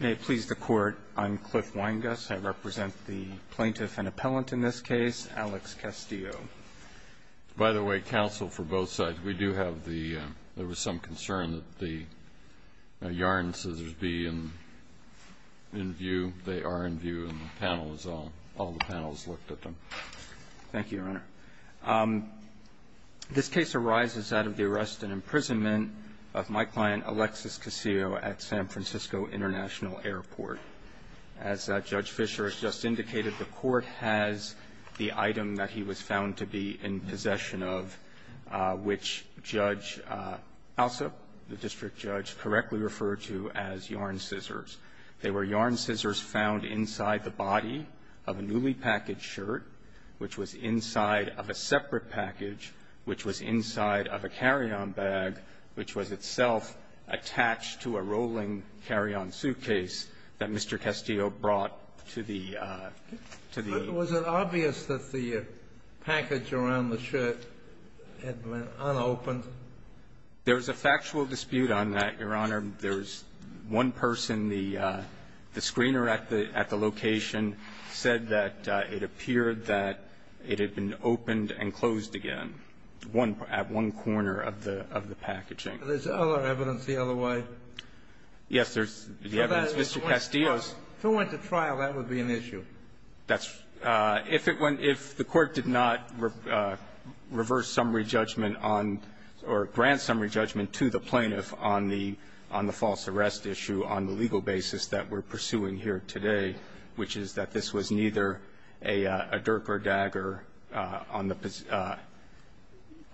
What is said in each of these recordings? May it please the Court, I'm Cliff Weinguss. I represent the plaintiff and appellant in this case, Alex Castillo. By the way, counsel, for both sides, we do have the, there was some concern that the yarn scissors be in view. They are in view and the panel is all, all the panels looked at them. Thank you, Your Honor. This case arises out of the arrest and imprisonment of my client, Alexis Castillo, at San Francisco International Airport. As Judge Fisher has just indicated, the Court has the item that he was found to be in possession of, which Judge Alsop, the district judge, correctly referred to as yarn scissors. They were yarn scissors found inside the body of a newly packaged shirt, which was inside of a separate package, which was inside of a carry-on bag, which was itself attached to a rolling carry-on suitcase that Mr. Castillo brought to the, to the Was it obvious that the package around the shirt had been unopened? There was a factual dispute on that, Your Honor. There was one person, the, the screener at the, at the location said that it appeared that it had been opened and closed again, one, at one corner of the, of the packaging. There's other evidence the other way? Yes, there's the evidence. Mr. Castillo's If it went to trial, that would be an issue. If it went, if the Court did not reverse summary judgment on or grant summary judgment to the plaintiff on the, on the false arrest issue on the legal basis that we're pursuing here today, which is that this was neither a dirk or dagger on the,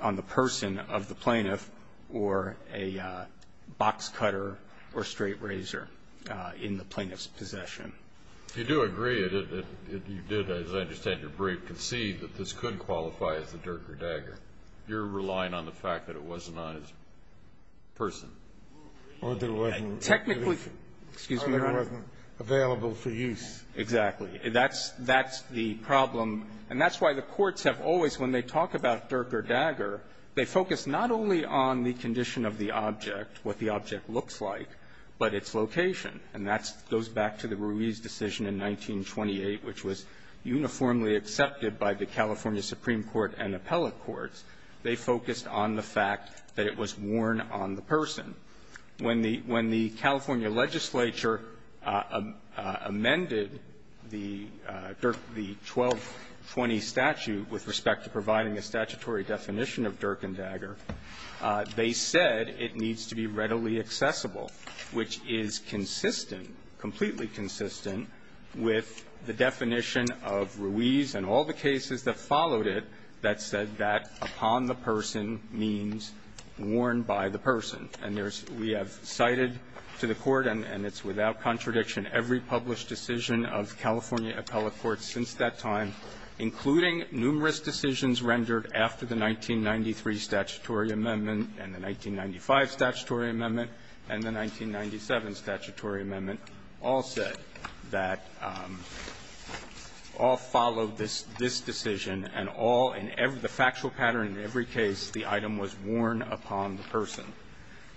on the person of the plaintiff or a box cutter or straight razor in the plaintiff's possession. You do agree that you did, as I understand your brief, concede that this could qualify as a dirk or dagger. You're relying on the fact that it wasn't on his person. Or there wasn't Technically Excuse me, Your Honor. Or there wasn't available for use. Exactly. That's, that's the problem. And that's why the courts have always, when they talk about dirk or dagger, they focus not only on the condition of the object, what the object looks like, but its location. And that goes back to the Ruiz decision in 1928, which was uniformly accepted by the California Supreme Court and appellate courts. They focused on the fact that it was worn on the person. When the, when the California legislature amended the dirk, the 1220 statute with respect to providing a statutory definition of dirk and dagger, they said it needs to be readily accessible, which is consistent, completely consistent, with the definition of Ruiz and all the cases that followed it that said that upon the person means worn by the person. And there's, we have cited to the Court, and it's without contradiction, every published decision of California appellate courts since that time, including numerous decisions rendered after the 1993 statutory amendment and the 1995 statutory amendment and the 1997 statutory amendment, all said that all followed this, this decision, and all, in every, the factual pattern in every case, the item was worn upon the person.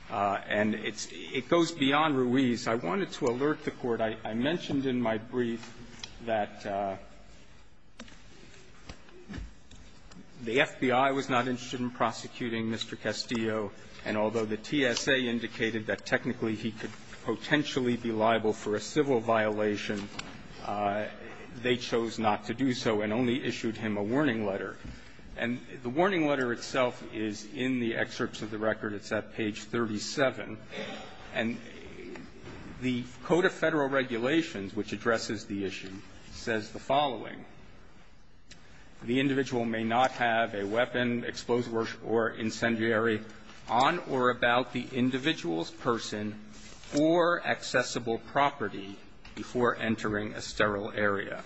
And it's, it goes beyond Ruiz. I wanted to alert the Court. I mentioned in my brief that the FBI was not interested in prosecuting Mr. Castillo, and although the TSA indicated that technically he could potentially be liable for a civil violation, they chose not to do so and only issued him a warning letter. And the warning letter itself is in the excerpts of the record. It's at page 37. And the Code of Federal Regulations, which addresses the issue, says the following. The individual may not have a weapon, explosive or incendiary on or about the individual's person or accessible property before entering a sterile area.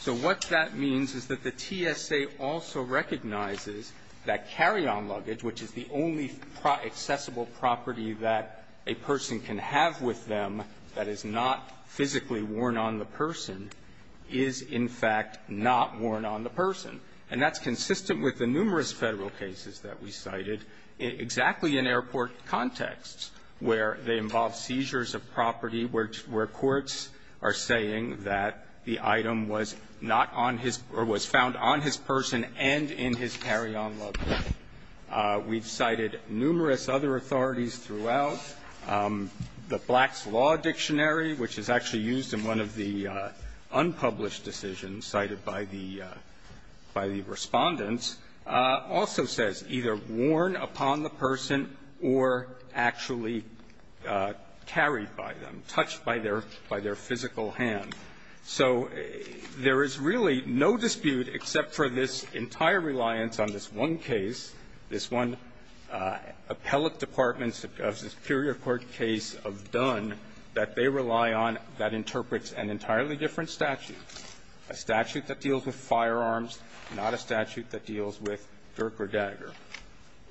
So what that means is that the TSA also recognizes that carry-on luggage, which is the only accessible property that a person can have with them that is not physically worn on the person, is, in fact, not worn on the person. And that's consistent with the numerous Federal cases that we cited exactly in airport contexts where they involve seizures of property, where courts are saying that the item was not on his or was found on his person and in his carry-on luggage. We've cited numerous other authorities throughout. The Black's Law Dictionary, which is actually used in one of the unpublished decisions cited by the Respondents, also says either worn upon the person or actually carried by them, touched by their physical hand. So there is really no dispute except for this entire reliance on this one case, this one appellate department of the Superior Court case of Dunn that they rely on that interprets an entirely different statute, a statute that deals with firearms, not a statute that deals with dirk or dagger.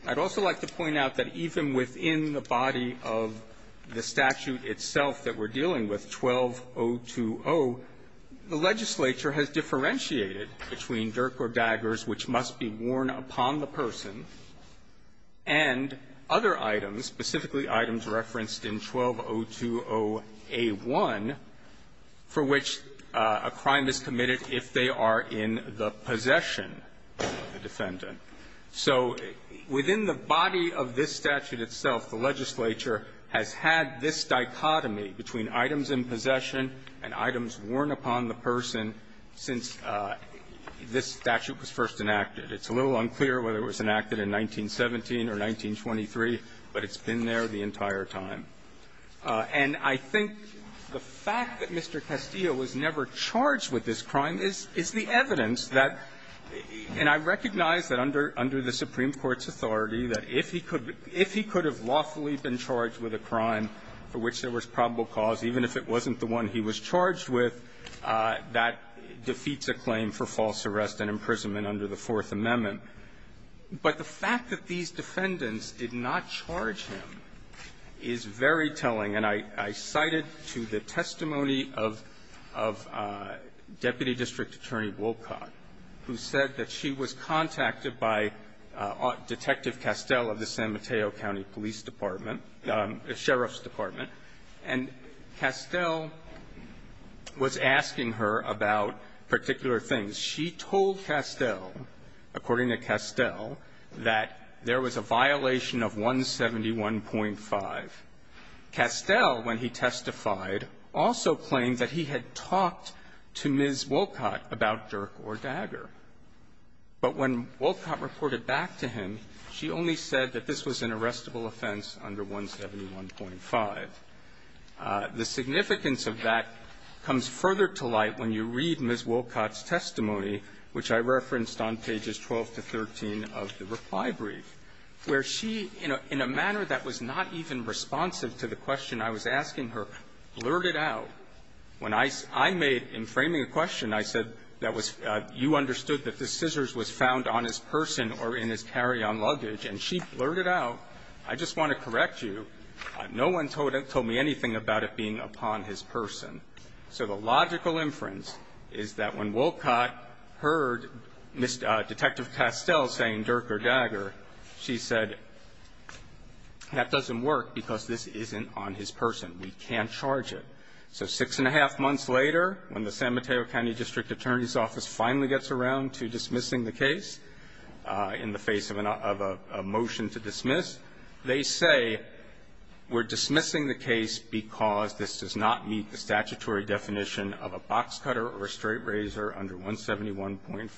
I'd also like to point out that even within the body of the statute itself that we're dealing with, 12020, the legislature has differentiated between dirk or daggers, which must be worn upon the person, and other items, specifically items referenced in 12020a1, for which a crime is committed if they are in the possession of the defendant. So within the body of this statute itself, the legislature has had this dichotomy between items in possession and items worn upon the person since this statute was first enacted. It's a little unclear whether it was enacted in 1917 or 1923, but it's been there the entire time. And I think the fact that Mr. Castillo was never charged with this crime is the evidence that – and I recognize that under the Supreme Court's authority, that if he could have lawfully been charged with a crime for which there was probable cause, even if it wasn't the one he was charged with, that defeats a claim for false arrest and imprisonment under the Fourth Amendment. But the fact that these defendants did not charge him is very telling. And I cited to the testimony of Deputy District Attorney Wolcott, who said that she was contacted by Detective Castell of the San Mateo County Police Department, the Sheriff's Department, and Castell was asking her about particular things. She told Castell, according to Castell, that there was a violation of 171.5. Castell, when he testified, also claimed that he had talked to Ms. Wolcott about Dirk or Dagger. But when Wolcott reported back to him, she only said that this was an arrestable offense under 171.5. The significance of that comes further to light when you read Ms. Wolcott's testimony, which I referenced on pages 12 to 13 of the reply brief, where she, in a manner that was not even responsive to the question I was asking her, blurted out. When I made, in framing a question, I said that was – you understood that the scissors was found on his person or in his carry-on luggage, and she blurted out. I just want to correct you. No one told me anything about it being upon his person. So the logical inference is that when Wolcott heard Detective Castell saying Dirk or Dagger, she said, that doesn't work because this isn't on his person. We can't charge it. So six and a half months later, when the San Mateo County District Attorney's around to dismissing the case in the face of a motion to dismiss, they say we're dismissing the case because this does not meet the statutory definition of a box cutter or a straight razor under 171.5.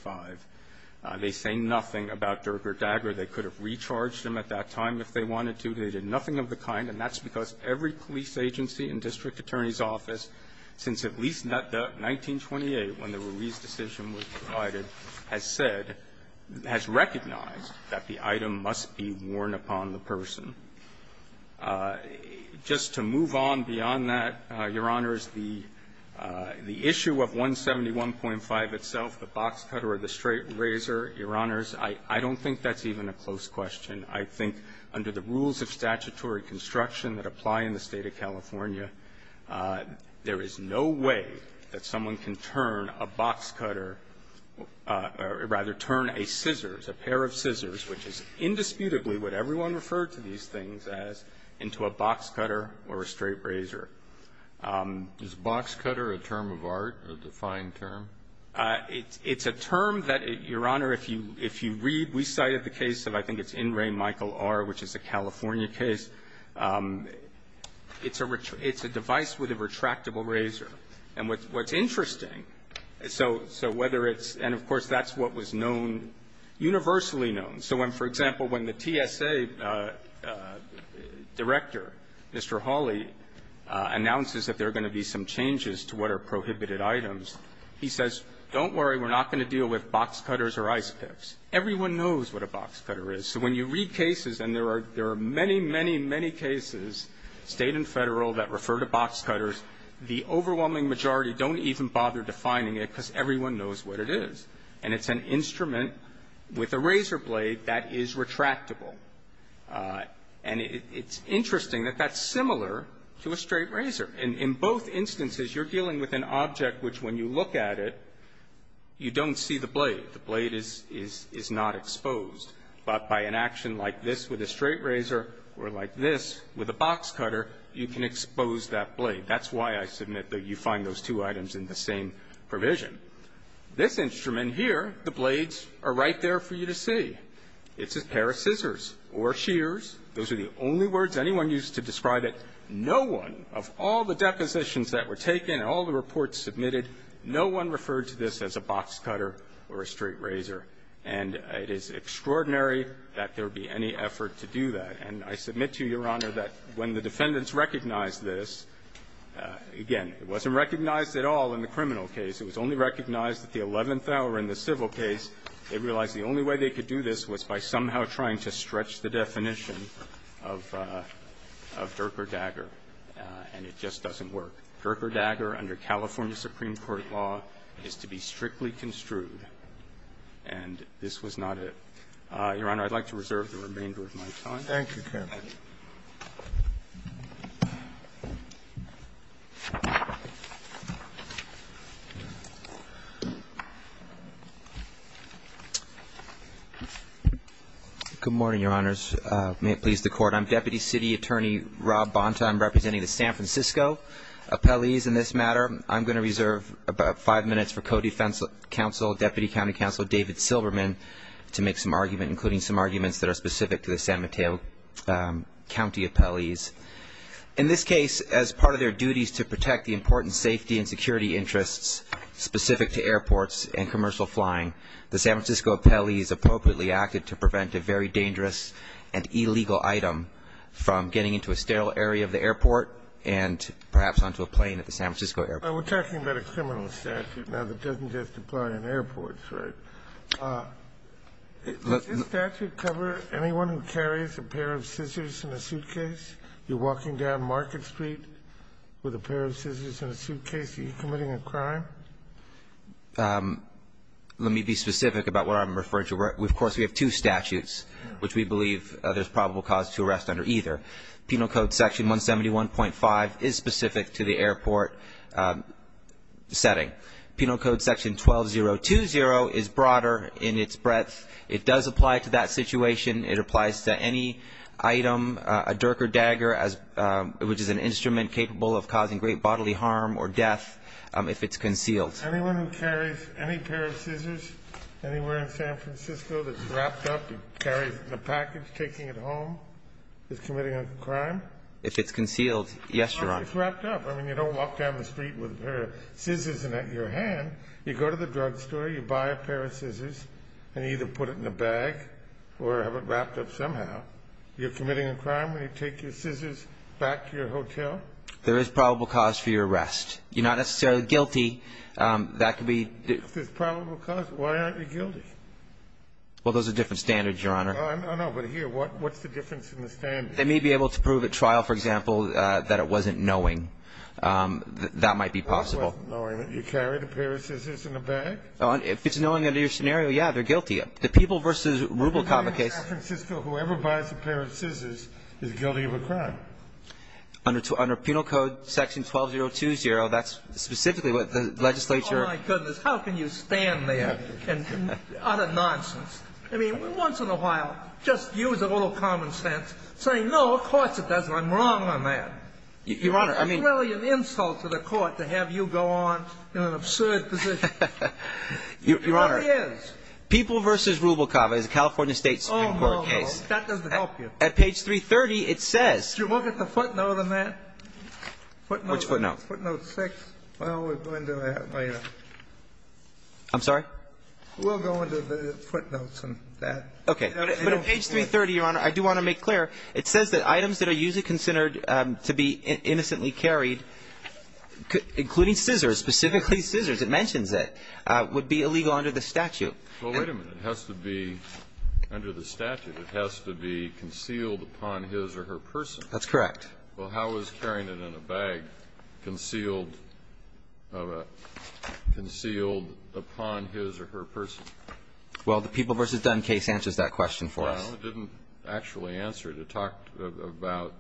They say nothing about Dirk or Dagger. They could have recharged them at that time if they wanted to. They did nothing of the kind, and that's because every police agency and district has said – has recognized that the item must be worn upon the person. Just to move on beyond that, Your Honors, the issue of 171.5 itself, the box cutter or the straight razor, Your Honors, I don't think that's even a close question. I think under the rules of statutory construction that apply in the State of California, there is no way that someone can turn a box cutter – or rather turn a scissors, a pair of scissors, which is indisputably what everyone referred to these things as, into a box cutter or a straight razor. Is box cutter a term of art, a defined term? It's a term that, Your Honor, if you read – we cited the case of, I think it's Michael R., which is a California case, it's a – it's a device with a retractable razor. And what's interesting, so whether it's – and, of course, that's what was known, universally known. So when, for example, when the TSA director, Mr. Hawley, announces that there are going to be some changes to what are prohibited items, he says, don't worry, we're not going to deal with box cutters or ice picks. Everyone knows what a box cutter is. So when you read cases, and there are – there are many, many, many cases, State and Federal, that refer to box cutters, the overwhelming majority don't even bother defining it because everyone knows what it is. And it's an instrument with a razor blade that is retractable. And it's interesting that that's similar to a straight razor. In both instances, you're dealing with an object which, when you look at it, you don't see the blade. The blade is not exposed. But by an action like this with a straight razor or like this with a box cutter, you can expose that blade. That's why I submit that you find those two items in the same provision. This instrument here, the blades are right there for you to see. It's a pair of scissors or shears. Those are the only words anyone used to describe it. No one of all the depositions that were taken and all the reports submitted, no one referred to this as a box cutter or a straight razor. And it is extraordinary that there would be any effort to do that. And I submit to Your Honor that when the defendants recognized this, again, it wasn't recognized at all in the criminal case. It was only recognized at the eleventh hour in the civil case. They realized the only way they could do this was by somehow trying to stretch the definition of Dirk or Dagger, and it just doesn't work. Dirk or Dagger, under California Supreme Court law, is to be strictly construed. And this was not it. Your Honor, I'd like to reserve the remainder of my time. Thank you, counsel. Good morning, Your Honors. May it please the Court. I'm Deputy City Attorney Rob Bonta. I'm representing the San Francisco appellees in this matter. I'm going to reserve about five minutes for co-defense counsel, Deputy County Counsel David Silberman, to make some argument, including some arguments that are specific to the San Mateo County appellees. In this case, as part of their duties to protect the important safety and security interests specific to airports and commercial flying, the San Francisco appellees appropriately acted to prevent a very dangerous and illegal item from getting into a sterile area of the airport and perhaps onto a plane at the San Francisco airport. We're talking about a criminal statute now that doesn't just apply in airports, right? Does this statute cover anyone who carries a pair of scissors in a suitcase? You're walking down Market Street with a pair of scissors in a suitcase. Are you committing a crime? Let me be specific about what I'm referring to. Of course, we have two statutes, which we believe there's probable cause to arrest under either. Penal code section 171.5 is specific to the airport setting. Penal code section 12020 is broader in its breadth. It does apply to that situation. It applies to any item, a dirk or dagger, which is an instrument capable of causing great bodily harm or death if it's concealed. Anyone who carries any pair of scissors anywhere in San Francisco that's wrapped up and a crime if it's concealed. Yes, you're right. It's wrapped up. I mean, you don't walk down the street with her scissors in your hand. You go to the drugstore, you buy a pair of scissors and either put it in a bag or have it wrapped up somehow. You're committing a crime when you take your scissors back to your hotel. There is probable cause for your arrest. You're not necessarily guilty. That could be this probable cause. Why aren't you guilty? Well, those are different standards, Your Honor. I know, but here, what's the difference in the stand? They may be able to prove at trial, for example, that it wasn't knowing. That might be possible. It wasn't knowing that you carried a pair of scissors in a bag? If it's knowing under your scenario, yeah, they're guilty. The people versus Rubel, Comer case. In San Francisco, whoever buys a pair of scissors is guilty of a crime. Under penal code section 12020, that's specifically what the legislature. Oh, my goodness. How can you stand there? Utter nonsense. I mean, once in a while, just use a little common sense, saying, no, of course it doesn't. I'm wrong on that. Your Honor, I mean. It's really an insult to the court to have you go on in an absurd position. Your Honor. It really is. People versus Rubel, Comer is a California State Supreme Court case. That doesn't help you. At page 330, it says. Did you look at the footnote on that? Which footnote? Footnote six. Well, we'll go into that later. I'm sorry? We'll go into the footnotes on that. Okay. But at page 330, Your Honor, I do want to make clear. It says that items that are usually considered to be innocently carried, including scissors, specifically scissors, it mentions it, would be illegal under the statute. Well, wait a minute. It has to be under the statute. It has to be concealed upon his or her person. That's correct. Well, how is carrying it in a bag concealed of a concealed upon his or her person? Well, the People v. Dunn case answers that question for us. Well, it didn't actually answer it. It talked about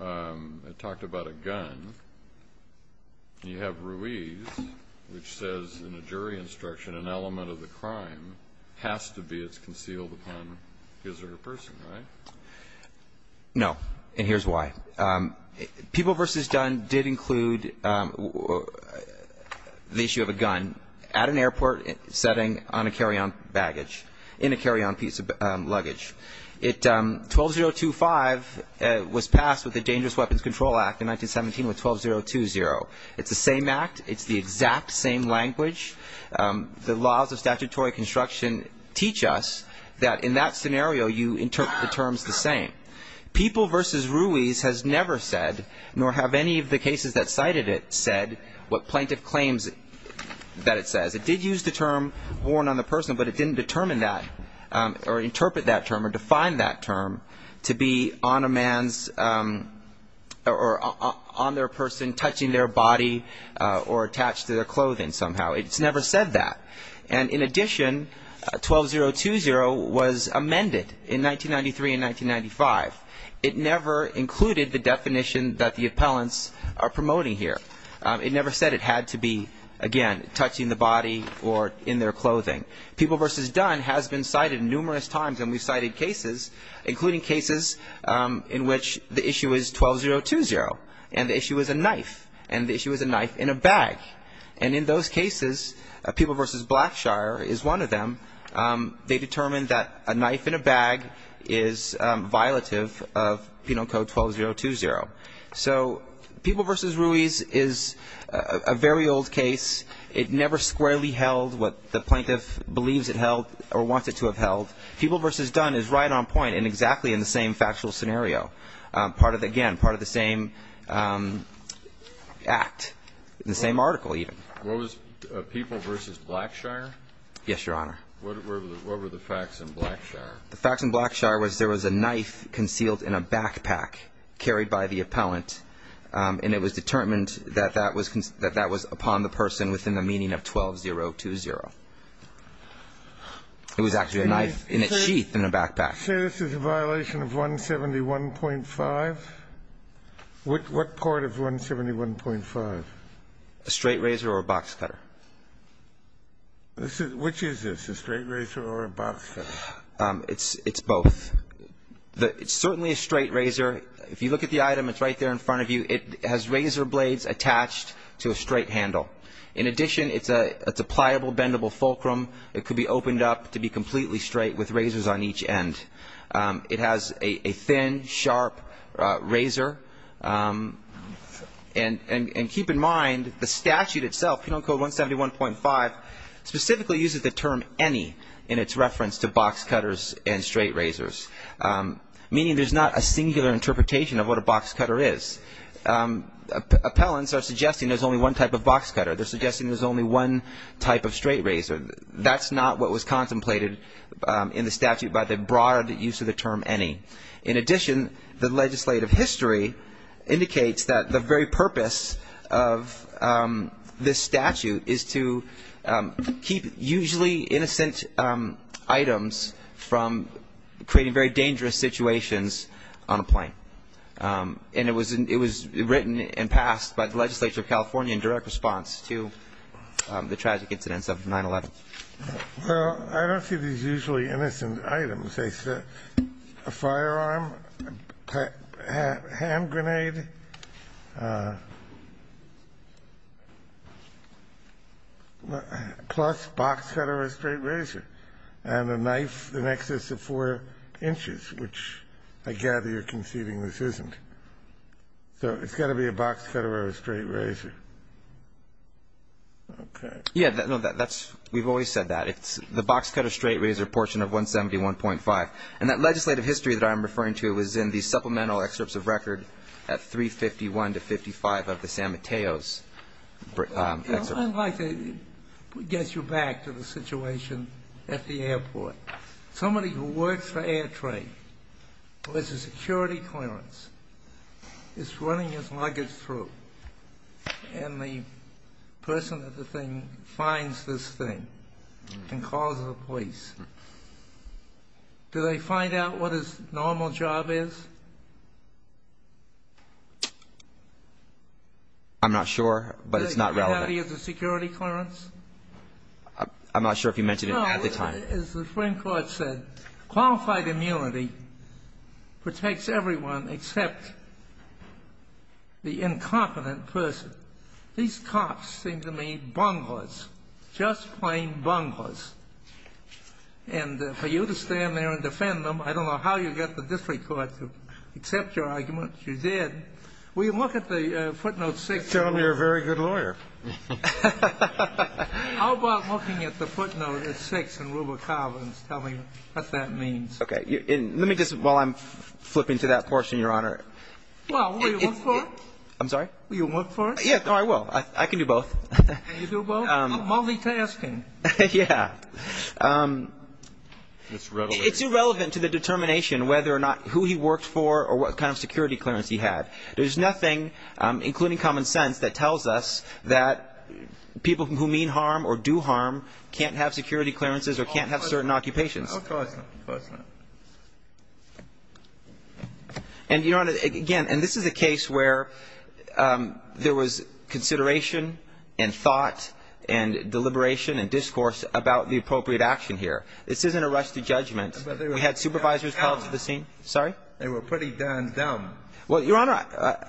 a gun. You have Ruiz, which says in a jury instruction, an element of the crime has to be it's concealed upon his or her person, right? No. And here's why. People v. Dunn did include the issue of a gun at an airport setting on a carry-on baggage, in a carry-on piece of luggage. It, 12025 was passed with the Dangerous Weapons Control Act in 1917 with 12020. It's the same act. It's the exact same language. The laws of statutory construction teach us that in that scenario, you interpret the terms the same. People v. Ruiz has never said, nor have any of the cases that cited it said, what plaintiff claims that it says. It did use the term worn on the person, but it didn't determine that or interpret that term or define that term to be on a man's or on their person touching their body or attached to their clothing somehow. It's never said that. And in addition, 12020 was amended in 1993 and 1995. It never included the definition that the appellants are promoting here. It never said it had to be, again, touching the body or in their clothing. People v. Dunn has been cited numerous times, and we've cited cases, including cases in which the issue is 12020, and the issue is a knife, and the issue is a knife in a bag. And in those cases, People v. Blackshire is one of them. They determined that a knife in a bag is violative of Penal Code 12020. So People v. Ruiz is a very old case. It never squarely held what the plaintiff believes it held or wanted to have held. People v. Dunn is right on point and exactly in the same factual scenario, again, part of the same act, the same article, even. What was People v. Blackshire? Yes, Your Honor. What were the facts in Blackshire? The facts in Blackshire was there was a knife concealed in a backpack carried by the appellant, and it was determined that that was upon the person within the meaning of 12020. It was actually a knife in a sheath in a backpack. So this is a violation of 171.5? What part of 171.5? A straight razor or a box cutter. Which is this, a straight razor or a box cutter? It's both. It's certainly a straight razor. If you look at the item, it's right there in front of you. It has razor blades attached to a straight handle. In addition, it's a pliable, bendable fulcrum. It could be opened up to be completely straight with razors on each end. It has a thin, sharp razor. And keep in mind, the statute itself, Penal Code 171.5, specifically uses the term any in its reference to box cutters and straight razors, meaning there's not a singular interpretation of what a box cutter is. Appellants are suggesting there's only one type of box cutter. They're suggesting there's only one type of straight razor. That's not what was contemplated in the statute by the broad use of the term any. In addition, the legislative history indicates that the very purpose of this statute is to keep usually innocent items from creating very dangerous situations on a plane. And it was written and passed by the legislature of California in direct response to the tragic incidents of 9-11. Well, I don't see these usually innocent items. They said a firearm, a hand grenade, plus box cutter or a straight razor, and a knife in excess of 4 inches, which I gather you're conceding this isn't. So it's got to be a box cutter or a straight razor. Okay. Yeah. No, that's we've always said that. It's the box cutter, straight razor portion of 171.5. And that legislative history that I'm referring to was in the supplemental excerpts of record at 351 to 55 of the San Mateos excerpt. I'd like to get you back to the situation at the airport. Somebody who works for Air Trade, who has a security clearance, is running his luggage through. And the person at the thing finds this thing and calls the police. Do they find out what his normal job is? I'm not sure, but it's not relevant. Does he have the security clearance? I'm not sure if you mentioned it at the time. No, as the Supreme Court said, qualified immunity protects everyone except the incompetent person. These cops seem to me bunglers, just plain bunglers. And for you to stand there and defend them, I don't know how you got the district court to accept your argument. You did. Will you look at the footnote 6? Tell them you're a very good lawyer. How about looking at the footnote 6 in Ruba Carlin's, tell me what that means. Okay. Let me just, while I'm flipping to that portion, Your Honor. Well, will you look for it? I'm sorry? Will you look for it? Yeah, I will. I can do both. Can you do both? Multitasking. Yeah. It's irrelevant to the determination whether or not who he worked for or what kind of security clearance he had. There's nothing, including common sense, that tells us that people who mean harm or do harm can't have security clearances or can't have certain occupations. Of course not. Of course not. And, Your Honor, again, and this is a case where there was consideration and thought and deliberation and discourse about the appropriate action here. This isn't a rush to judgment. We had supervisors come up to the scene. Sorry? They were pretty darn dumb. Well, Your Honor,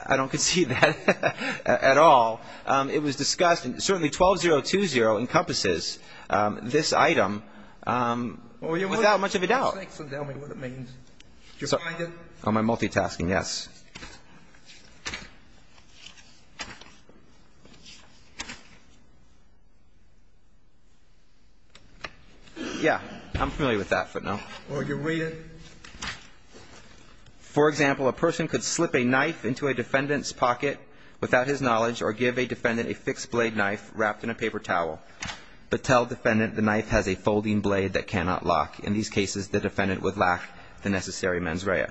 I don't concede that at all. It was discussed, and certainly 12020 encompasses this item without much of a doubt. So tell me what it means. Do you find it? Am I multitasking? Yes. Yeah. I'm familiar with that, but no. Well, do you read it? For example, a person could slip a knife into a defendant's pocket without his knowledge or give a defendant a fixed blade knife wrapped in a paper towel but tell defendant the knife has a folding blade that cannot lock. In these cases, the defendant would lack the necessary mens rea.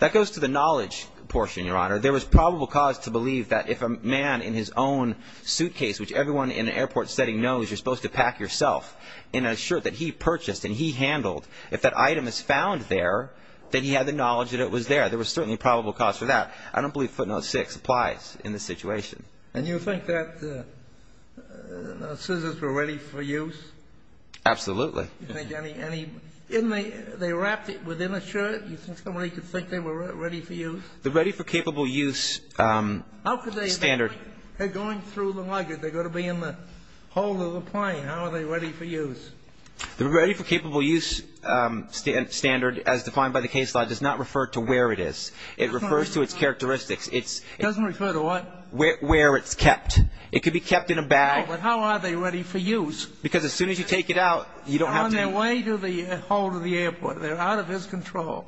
That goes to the knowledge portion, Your Honor. There was probable cause to believe that if a man in his own suitcase, which everyone in an airport setting knows you're supposed to pack yourself, in a shirt that he purchased and he handled, if that item is found there, then he had the knowledge that it was there. There was certainly probable cause for that. I don't believe footnote 6 applies in this situation. And you think that the scissors were ready for use? Absolutely. You think any, any, didn't they, they wrapped it within a shirt? You think somebody could think they were ready for use? The ready for capable use standard. How could they? They're going through the luggage. They're going to be in the hold of the plane. How are they ready for use? The ready for capable use standard as defined by the case law does not refer to where it is. It refers to its characteristics. It's. It doesn't refer to what? Where it's kept. It could be kept in a bag. But how are they ready for use? Because as soon as you take it out, you don't have to. They're on their way to the hold of the airport. They're out of his control.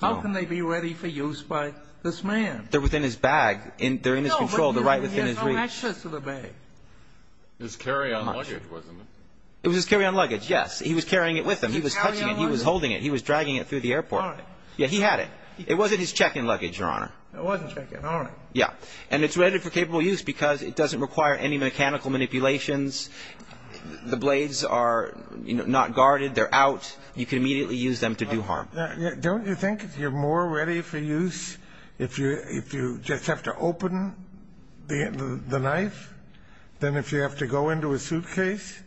How can they be ready for use by this man? They're within his bag. They're in his control. They're right within his reach. No, but he had no access to the bag. It was his carry-on luggage, wasn't it? It was his carry-on luggage, yes. He was carrying it with him. He was touching it. He was holding it. He was dragging it through the airport. All right. Yeah, he had it. It wasn't his check-in luggage, Your Honor. It wasn't check-in. All right. Yeah. And it's ready for capable use because it doesn't require any mechanical manipulations. The blades are not guarded. They're out. You can immediately use them to do harm. Don't you think if you're more ready for use if you just have to open the knife than if you have to go into a suitcase,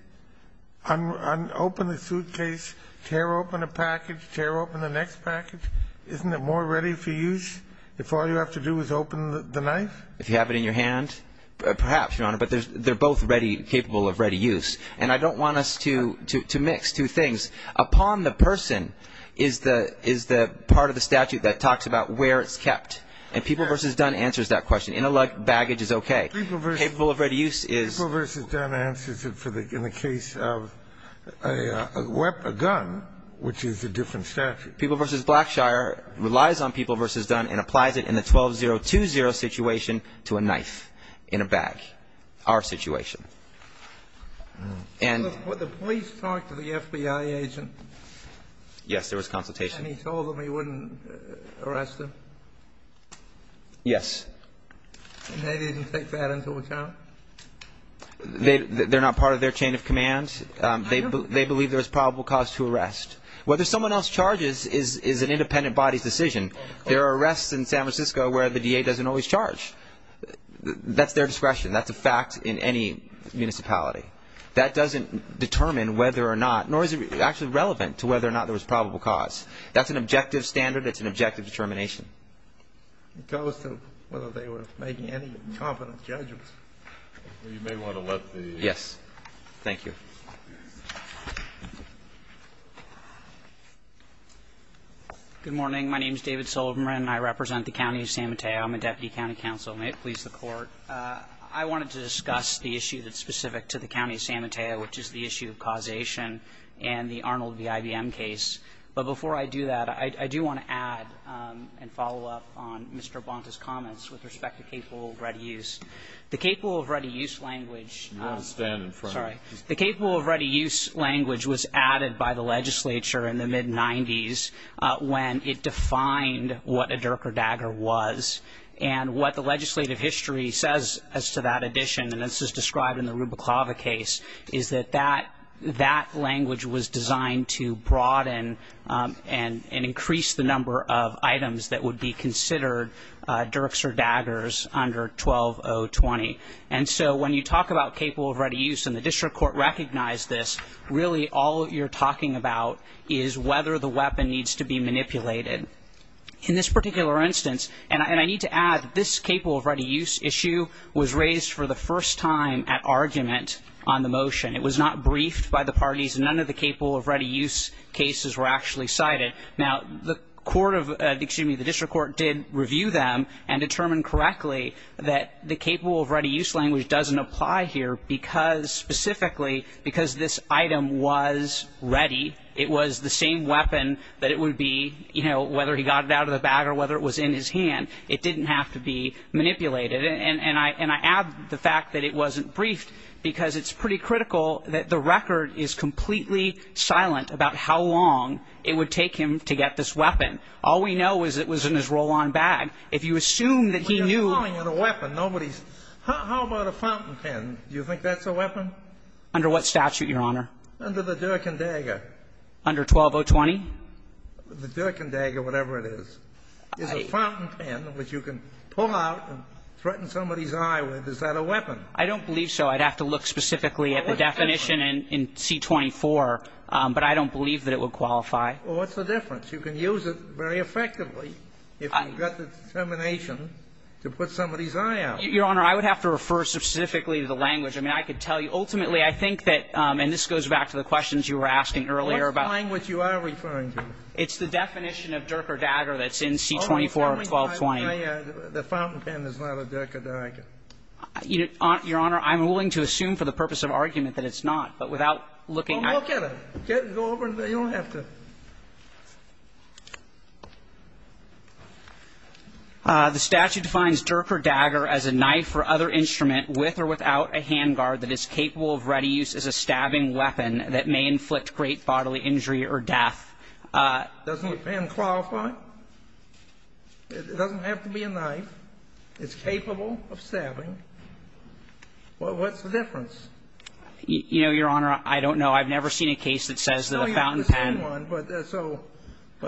open the suitcase, tear open a package, tear open the next package, isn't it more ready for use? If all you have to do is open the knife? If you have it in your hand, perhaps, Your Honor, but they're both ready, capable of ready use. And I don't want us to mix two things. Upon the person is the part of the statute that talks about where it's kept. And People v. Dunn answers that question. Intellect baggage is okay. Capable of ready use is... People v. Dunn answers it in the case of a gun, which is a different statute. People v. Blackshire relies on People v. Dunn and applies it in the 12-0-2-0 situation to a knife in a bag. Our situation. And... But the police talked to the FBI agent. Yes, there was consultation. And he told them he wouldn't arrest him? Yes. And they didn't take that into account? They're not part of their chain of command. They believe there's probable cause to arrest. Whether someone else charges is an independent body's decision. There are arrests in San Francisco where the D.A. doesn't always charge. That's their discretion. That's a fact in any municipality. That doesn't determine whether or not, nor is it actually relevant to whether or not there was probable cause. That's an objective standard. It's an objective determination. It goes to whether they were making any competent judgments. You may want to let the... Yes. Thank you. Mr. Bonta. Good morning. My name is David Sullivan. I represent the county of San Mateo. I'm a deputy county counsel. May it please the Court. I wanted to discuss the issue that's specific to the county of San Mateo, which is the issue of causation and the Arnold v. IBM case. But before I do that, I do want to add and follow up on Mr. Bonta's comments with respect to capable of ready use. I'm sorry. I'm sorry. I'm sorry. I'm sorry. I'm sorry. I'm sorry. I'm sorry. The capable of ready use language was added by the legislature in the mid-90s, when it defined what a DURC or DAGR was. And what the legislative history says as to that addition, and this is described in the Ruba Clava case, is that that language was designed to broaden and increase the number of items that would be considered DURCs or DAGRs under 12020. And so when you talk about capable of ready use, and the district court recognized this, really all you're talking about is whether the weapon needs to be manipulated. In this particular instance, and I need to add, this capable of ready use issue was raised for the first time at argument on the motion. It was not briefed by the parties, and none of the capable of ready use cases were actually cited. Now, the court of, excuse me, the district court did review them and determine correctly that the capable of ready use language doesn't apply here because, specifically, because this item was ready. It was the same weapon that it would be, you know, whether he got it out of the bag or whether it was in his hand. It didn't have to be manipulated. And I add the fact that it wasn't briefed because it's pretty critical that the record is completely silent about how long it would take him to get this weapon. All we know is it was in his roll-on bag. If you assume that he knew the weapon, nobody's How about a fountain pen? Do you think that's a weapon? Under what statute, Your Honor? Under the Dirk and Dagger. Under 12020? The Dirk and Dagger, whatever it is. Is a fountain pen, which you can pull out and threaten somebody's eye with, is that a weapon? I don't believe so. I'd have to look specifically at the definition in C-24, but I don't believe that it would qualify. Well, what's the difference? You can use it very effectively if you've got the determination to put somebody's eye out. Your Honor, I would have to refer specifically to the language. I mean, I could tell you. Ultimately, I think that this goes back to the questions you were asking earlier about the language you are referring to. It's the definition of Dirk or Dagger that's in C-24 of 1220. The fountain pen is not a Dirk or Dagger. Your Honor, I'm willing to assume for the purpose of argument that it's not, but without looking at it. Go over and you don't have to. The statute defines Dirk or Dagger as a knife or other instrument with or without a handguard that is capable of ready use as a stabbing weapon that may inflict great bodily injury or death. Doesn't the pen qualify? It doesn't have to be a knife. It's capable of stabbing. What's the difference? You know, Your Honor, I don't know. I've never seen a case that says that a fountain pen.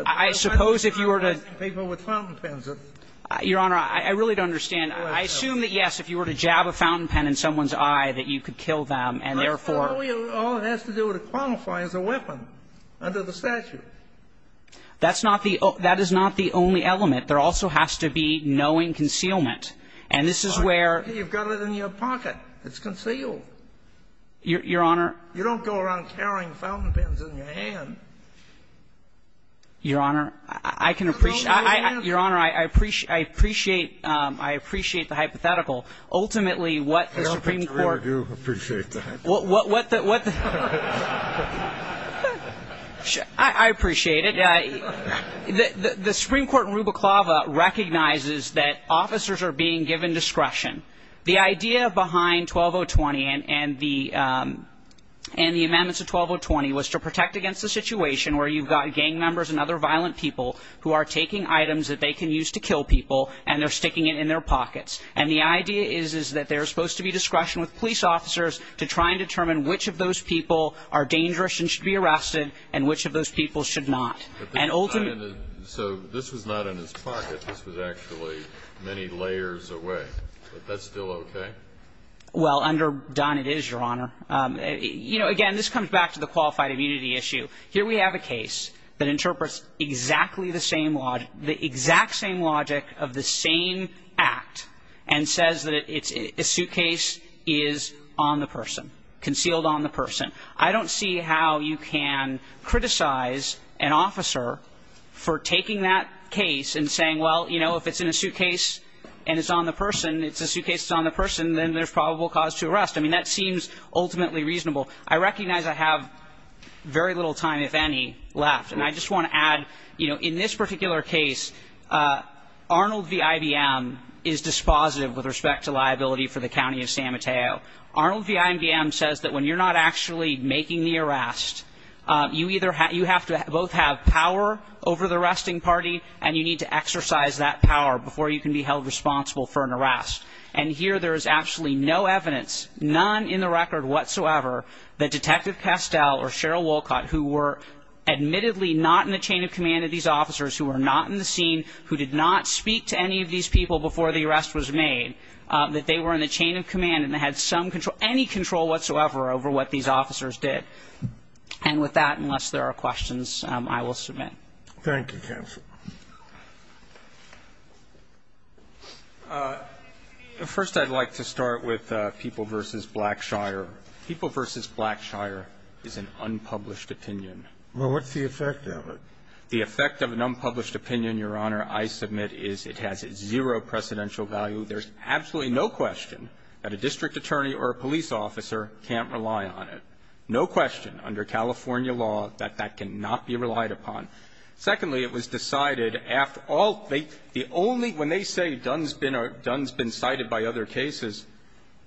I suppose if you were to ---- Your Honor, I really don't understand. I assume that, yes, if you were to jab a fountain pen in someone's eye, that you could kill them, and therefore ---- All it has to do to qualify is a weapon under the statute. That's not the only element. There also has to be knowing concealment. And this is where ---- You've got it in your pocket. It's concealed. Your Honor ---- You don't go around carrying fountain pens in your hand. Your Honor, I can appreciate ---- Your Honor, I appreciate the hypothetical. Ultimately, what the Supreme Court ---- I don't think you really do appreciate the hypothetical. What the ---- I appreciate it. The Supreme Court in Rubiclava recognizes that officers are being given discretion. The idea behind 12020 and the amendments of 12020 was to protect against a situation where you've got gang members and other violent people who are taking items that they can use to kill people, and they're sticking it in their pockets. And the idea is that there's supposed to be discretion with police officers to try and determine which of those people are dangerous and should be arrested and which of those people should not. And ultimately ---- That's still okay? Well, under Dunn, it is, Your Honor. You know, again, this comes back to the qualified immunity issue. Here we have a case that interprets exactly the same logic, the exact same logic of the same act and says that it's a suitcase is on the person, concealed on the person. I don't see how you can criticize an officer for taking that case and saying, well, you know, if it's a suitcase and it's on the person, it's a suitcase that's on the person, then there's probable cause to arrest. I mean, that seems ultimately reasonable. I recognize I have very little time, if any, left. And I just want to add, you know, in this particular case, Arnold v. IBM is dispositive with respect to liability for the County of San Mateo. Arnold v. IBM says that when you're not actually making the arrest, you either have ---- you have to both have power over the arresting party and you need to exercise that power before you can be held responsible for an arrest. And here there is absolutely no evidence, none in the record whatsoever, that Detective Castell or Cheryl Wolcott, who were admittedly not in the chain of command of these officers, who were not in the scene, who did not speak to any of these people before the arrest was made, that they were in the chain of command and had some control, any control whatsoever over what these officers did. And with that, unless there are questions, I will submit. Thank you, counsel. First, I'd like to start with People v. Blackshire. People v. Blackshire is an unpublished opinion. Well, what's the effect of it? The effect of an unpublished opinion, Your Honor, I submit, is it has zero precedential value. There's absolutely no question that a district attorney or a police officer can't rely on it. No question under California law that that cannot be relied upon. Secondly, it was decided after all they the only when they say Dunn's been Dunn's been cited by other cases,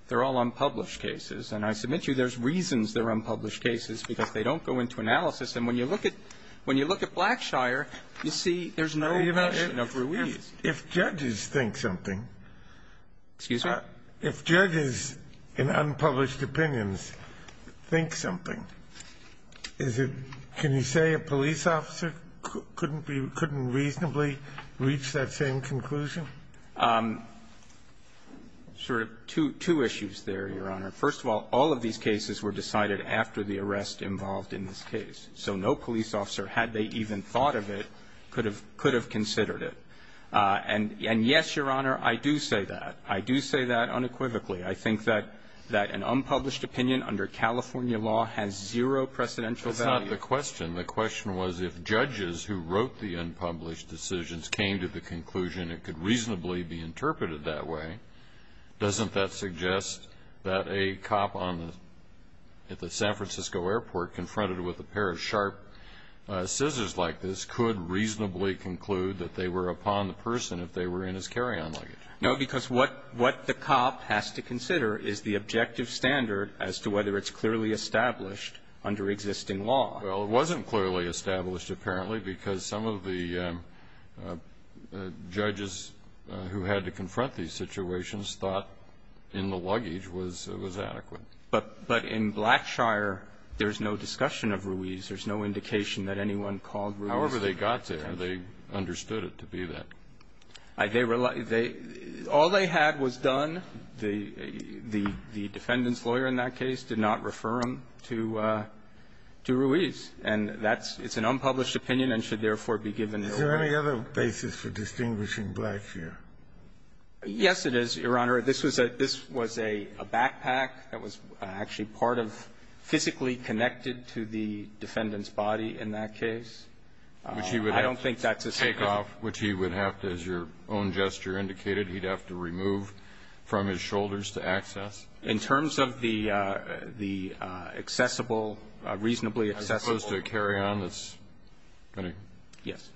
they're all unpublished cases. And I submit to you there's reasons they're unpublished cases, because they don't go into analysis. And when you look at when you look at Blackshire, you see there's no mention of Ruiz. If judges think something. Excuse me? If judges in unpublished opinions think something, is it can you say a police officer couldn't be couldn't reasonably reach that same conclusion? Sort of two issues there, Your Honor. First of all, all of these cases were decided after the arrest involved in this case. So no police officer, had they even thought of it, could have considered it. And yes, Your Honor, I do say that. I do say that unequivocally. I think that that an unpublished opinion under California law has zero precedential value. That's not the question. The question was if judges who wrote the unpublished decisions came to the conclusion it could reasonably be interpreted that way, doesn't that suggest that a cop on the San Francisco airport confronted with a pair of sharp scissors like this could reasonably conclude that they were upon the person if they were in his carry-on luggage? No, because what the cop has to consider is the objective standard as to whether it's clearly established under existing law. Well, it wasn't clearly established, apparently, because some of the judges who had to confront these situations thought in the luggage was adequate. But in Blackshire, there's no discussion of Ruiz. There's no indication that anyone called Ruiz. However they got there, they understood it to be that. They were like they all they had was done. The defendant's lawyer in that case did not refer him to Ruiz. And that's an unpublished opinion and should therefore be given no regard. Is there any other basis for distinguishing Blackshire? Yes, it is, Your Honor. This was a backpack that was actually part of physically connected to the defendant's body in that case. Which he would have to take off. Which he would have to, as your own gesture indicated, he'd have to remove from his shoulders to access. In terms of the accessible, reasonably accessible. As opposed to a carry-on that's going to. Yes.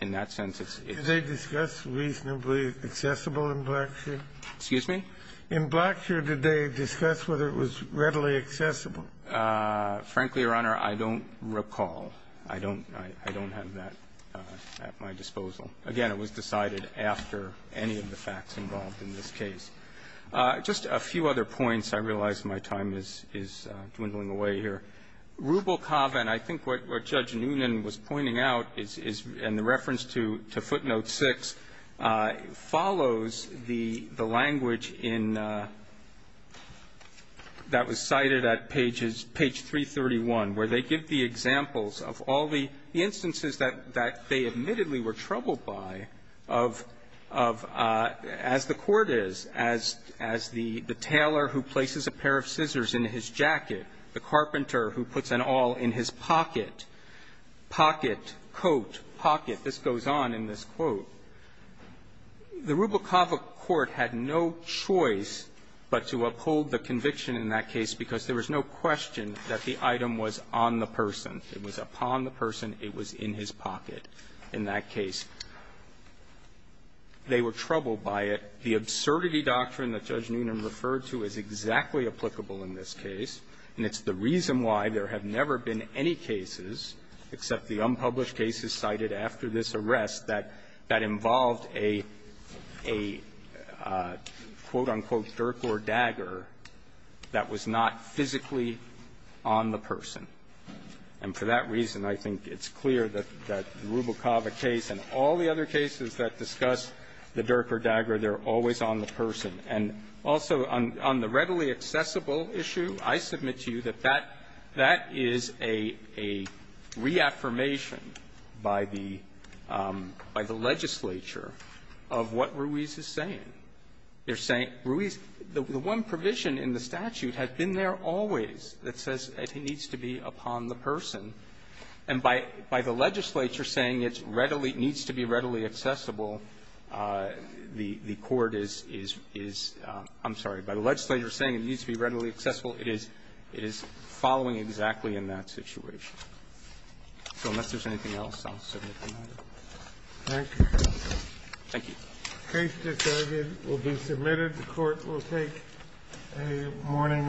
In that sense, it's. Did they discuss reasonably accessible in Blackshire? Excuse me? In Blackshire, did they discuss whether it was readily accessible? Frankly, Your Honor, I don't recall. I don't have that at my disposal. Again, it was decided after any of the facts involved in this case. Just a few other points. I realize my time is dwindling away here. Rubel-Kavan, I think what Judge Noonan was pointing out, and the reference to footnote 6, follows the language in, that was cited at pages, page 331, where they give the examples of all the instances that they admittedly were troubled by of, as the Court is, as the tailor who places a pair of scissors in his jacket, the carpenter who puts an awl in his pocket, coat, pocket, this goes on in this quote. The Rubel-Kavan court had no choice but to uphold the conviction in that case because there was no question that the item was on the person. It was upon the person. It was in his pocket in that case. They were troubled by it. The absurdity doctrine that Judge Noonan referred to is exactly applicable in this case, and it's the reason why there have never been any cases, except the unpublished cases cited after this arrest, that that involved a, a, quote, unquote, a dirk or dagger that was not physically on the person. And for that reason, I think it's clear that, that the Rubel-Kava case and all the other cases that discuss the dirk or dagger, they're always on the person. And also, on the readily accessible issue, I submit to you that that, that is a, a reaffirmation by the, by the legislature of what Ruiz is saying. They're saying, Ruiz, the one provision in the statute has been there always that says it needs to be upon the person, and by, by the legislature saying it's readily needs to be readily accessible, the, the court is, is, is, I'm sorry, by the legislature saying it needs to be readily accessible, it is, it is following exactly in that situation. So unless there's anything else, I'll submit the matter. Thank you. Thank you. The case decided will be submitted. The court will take a morning recess.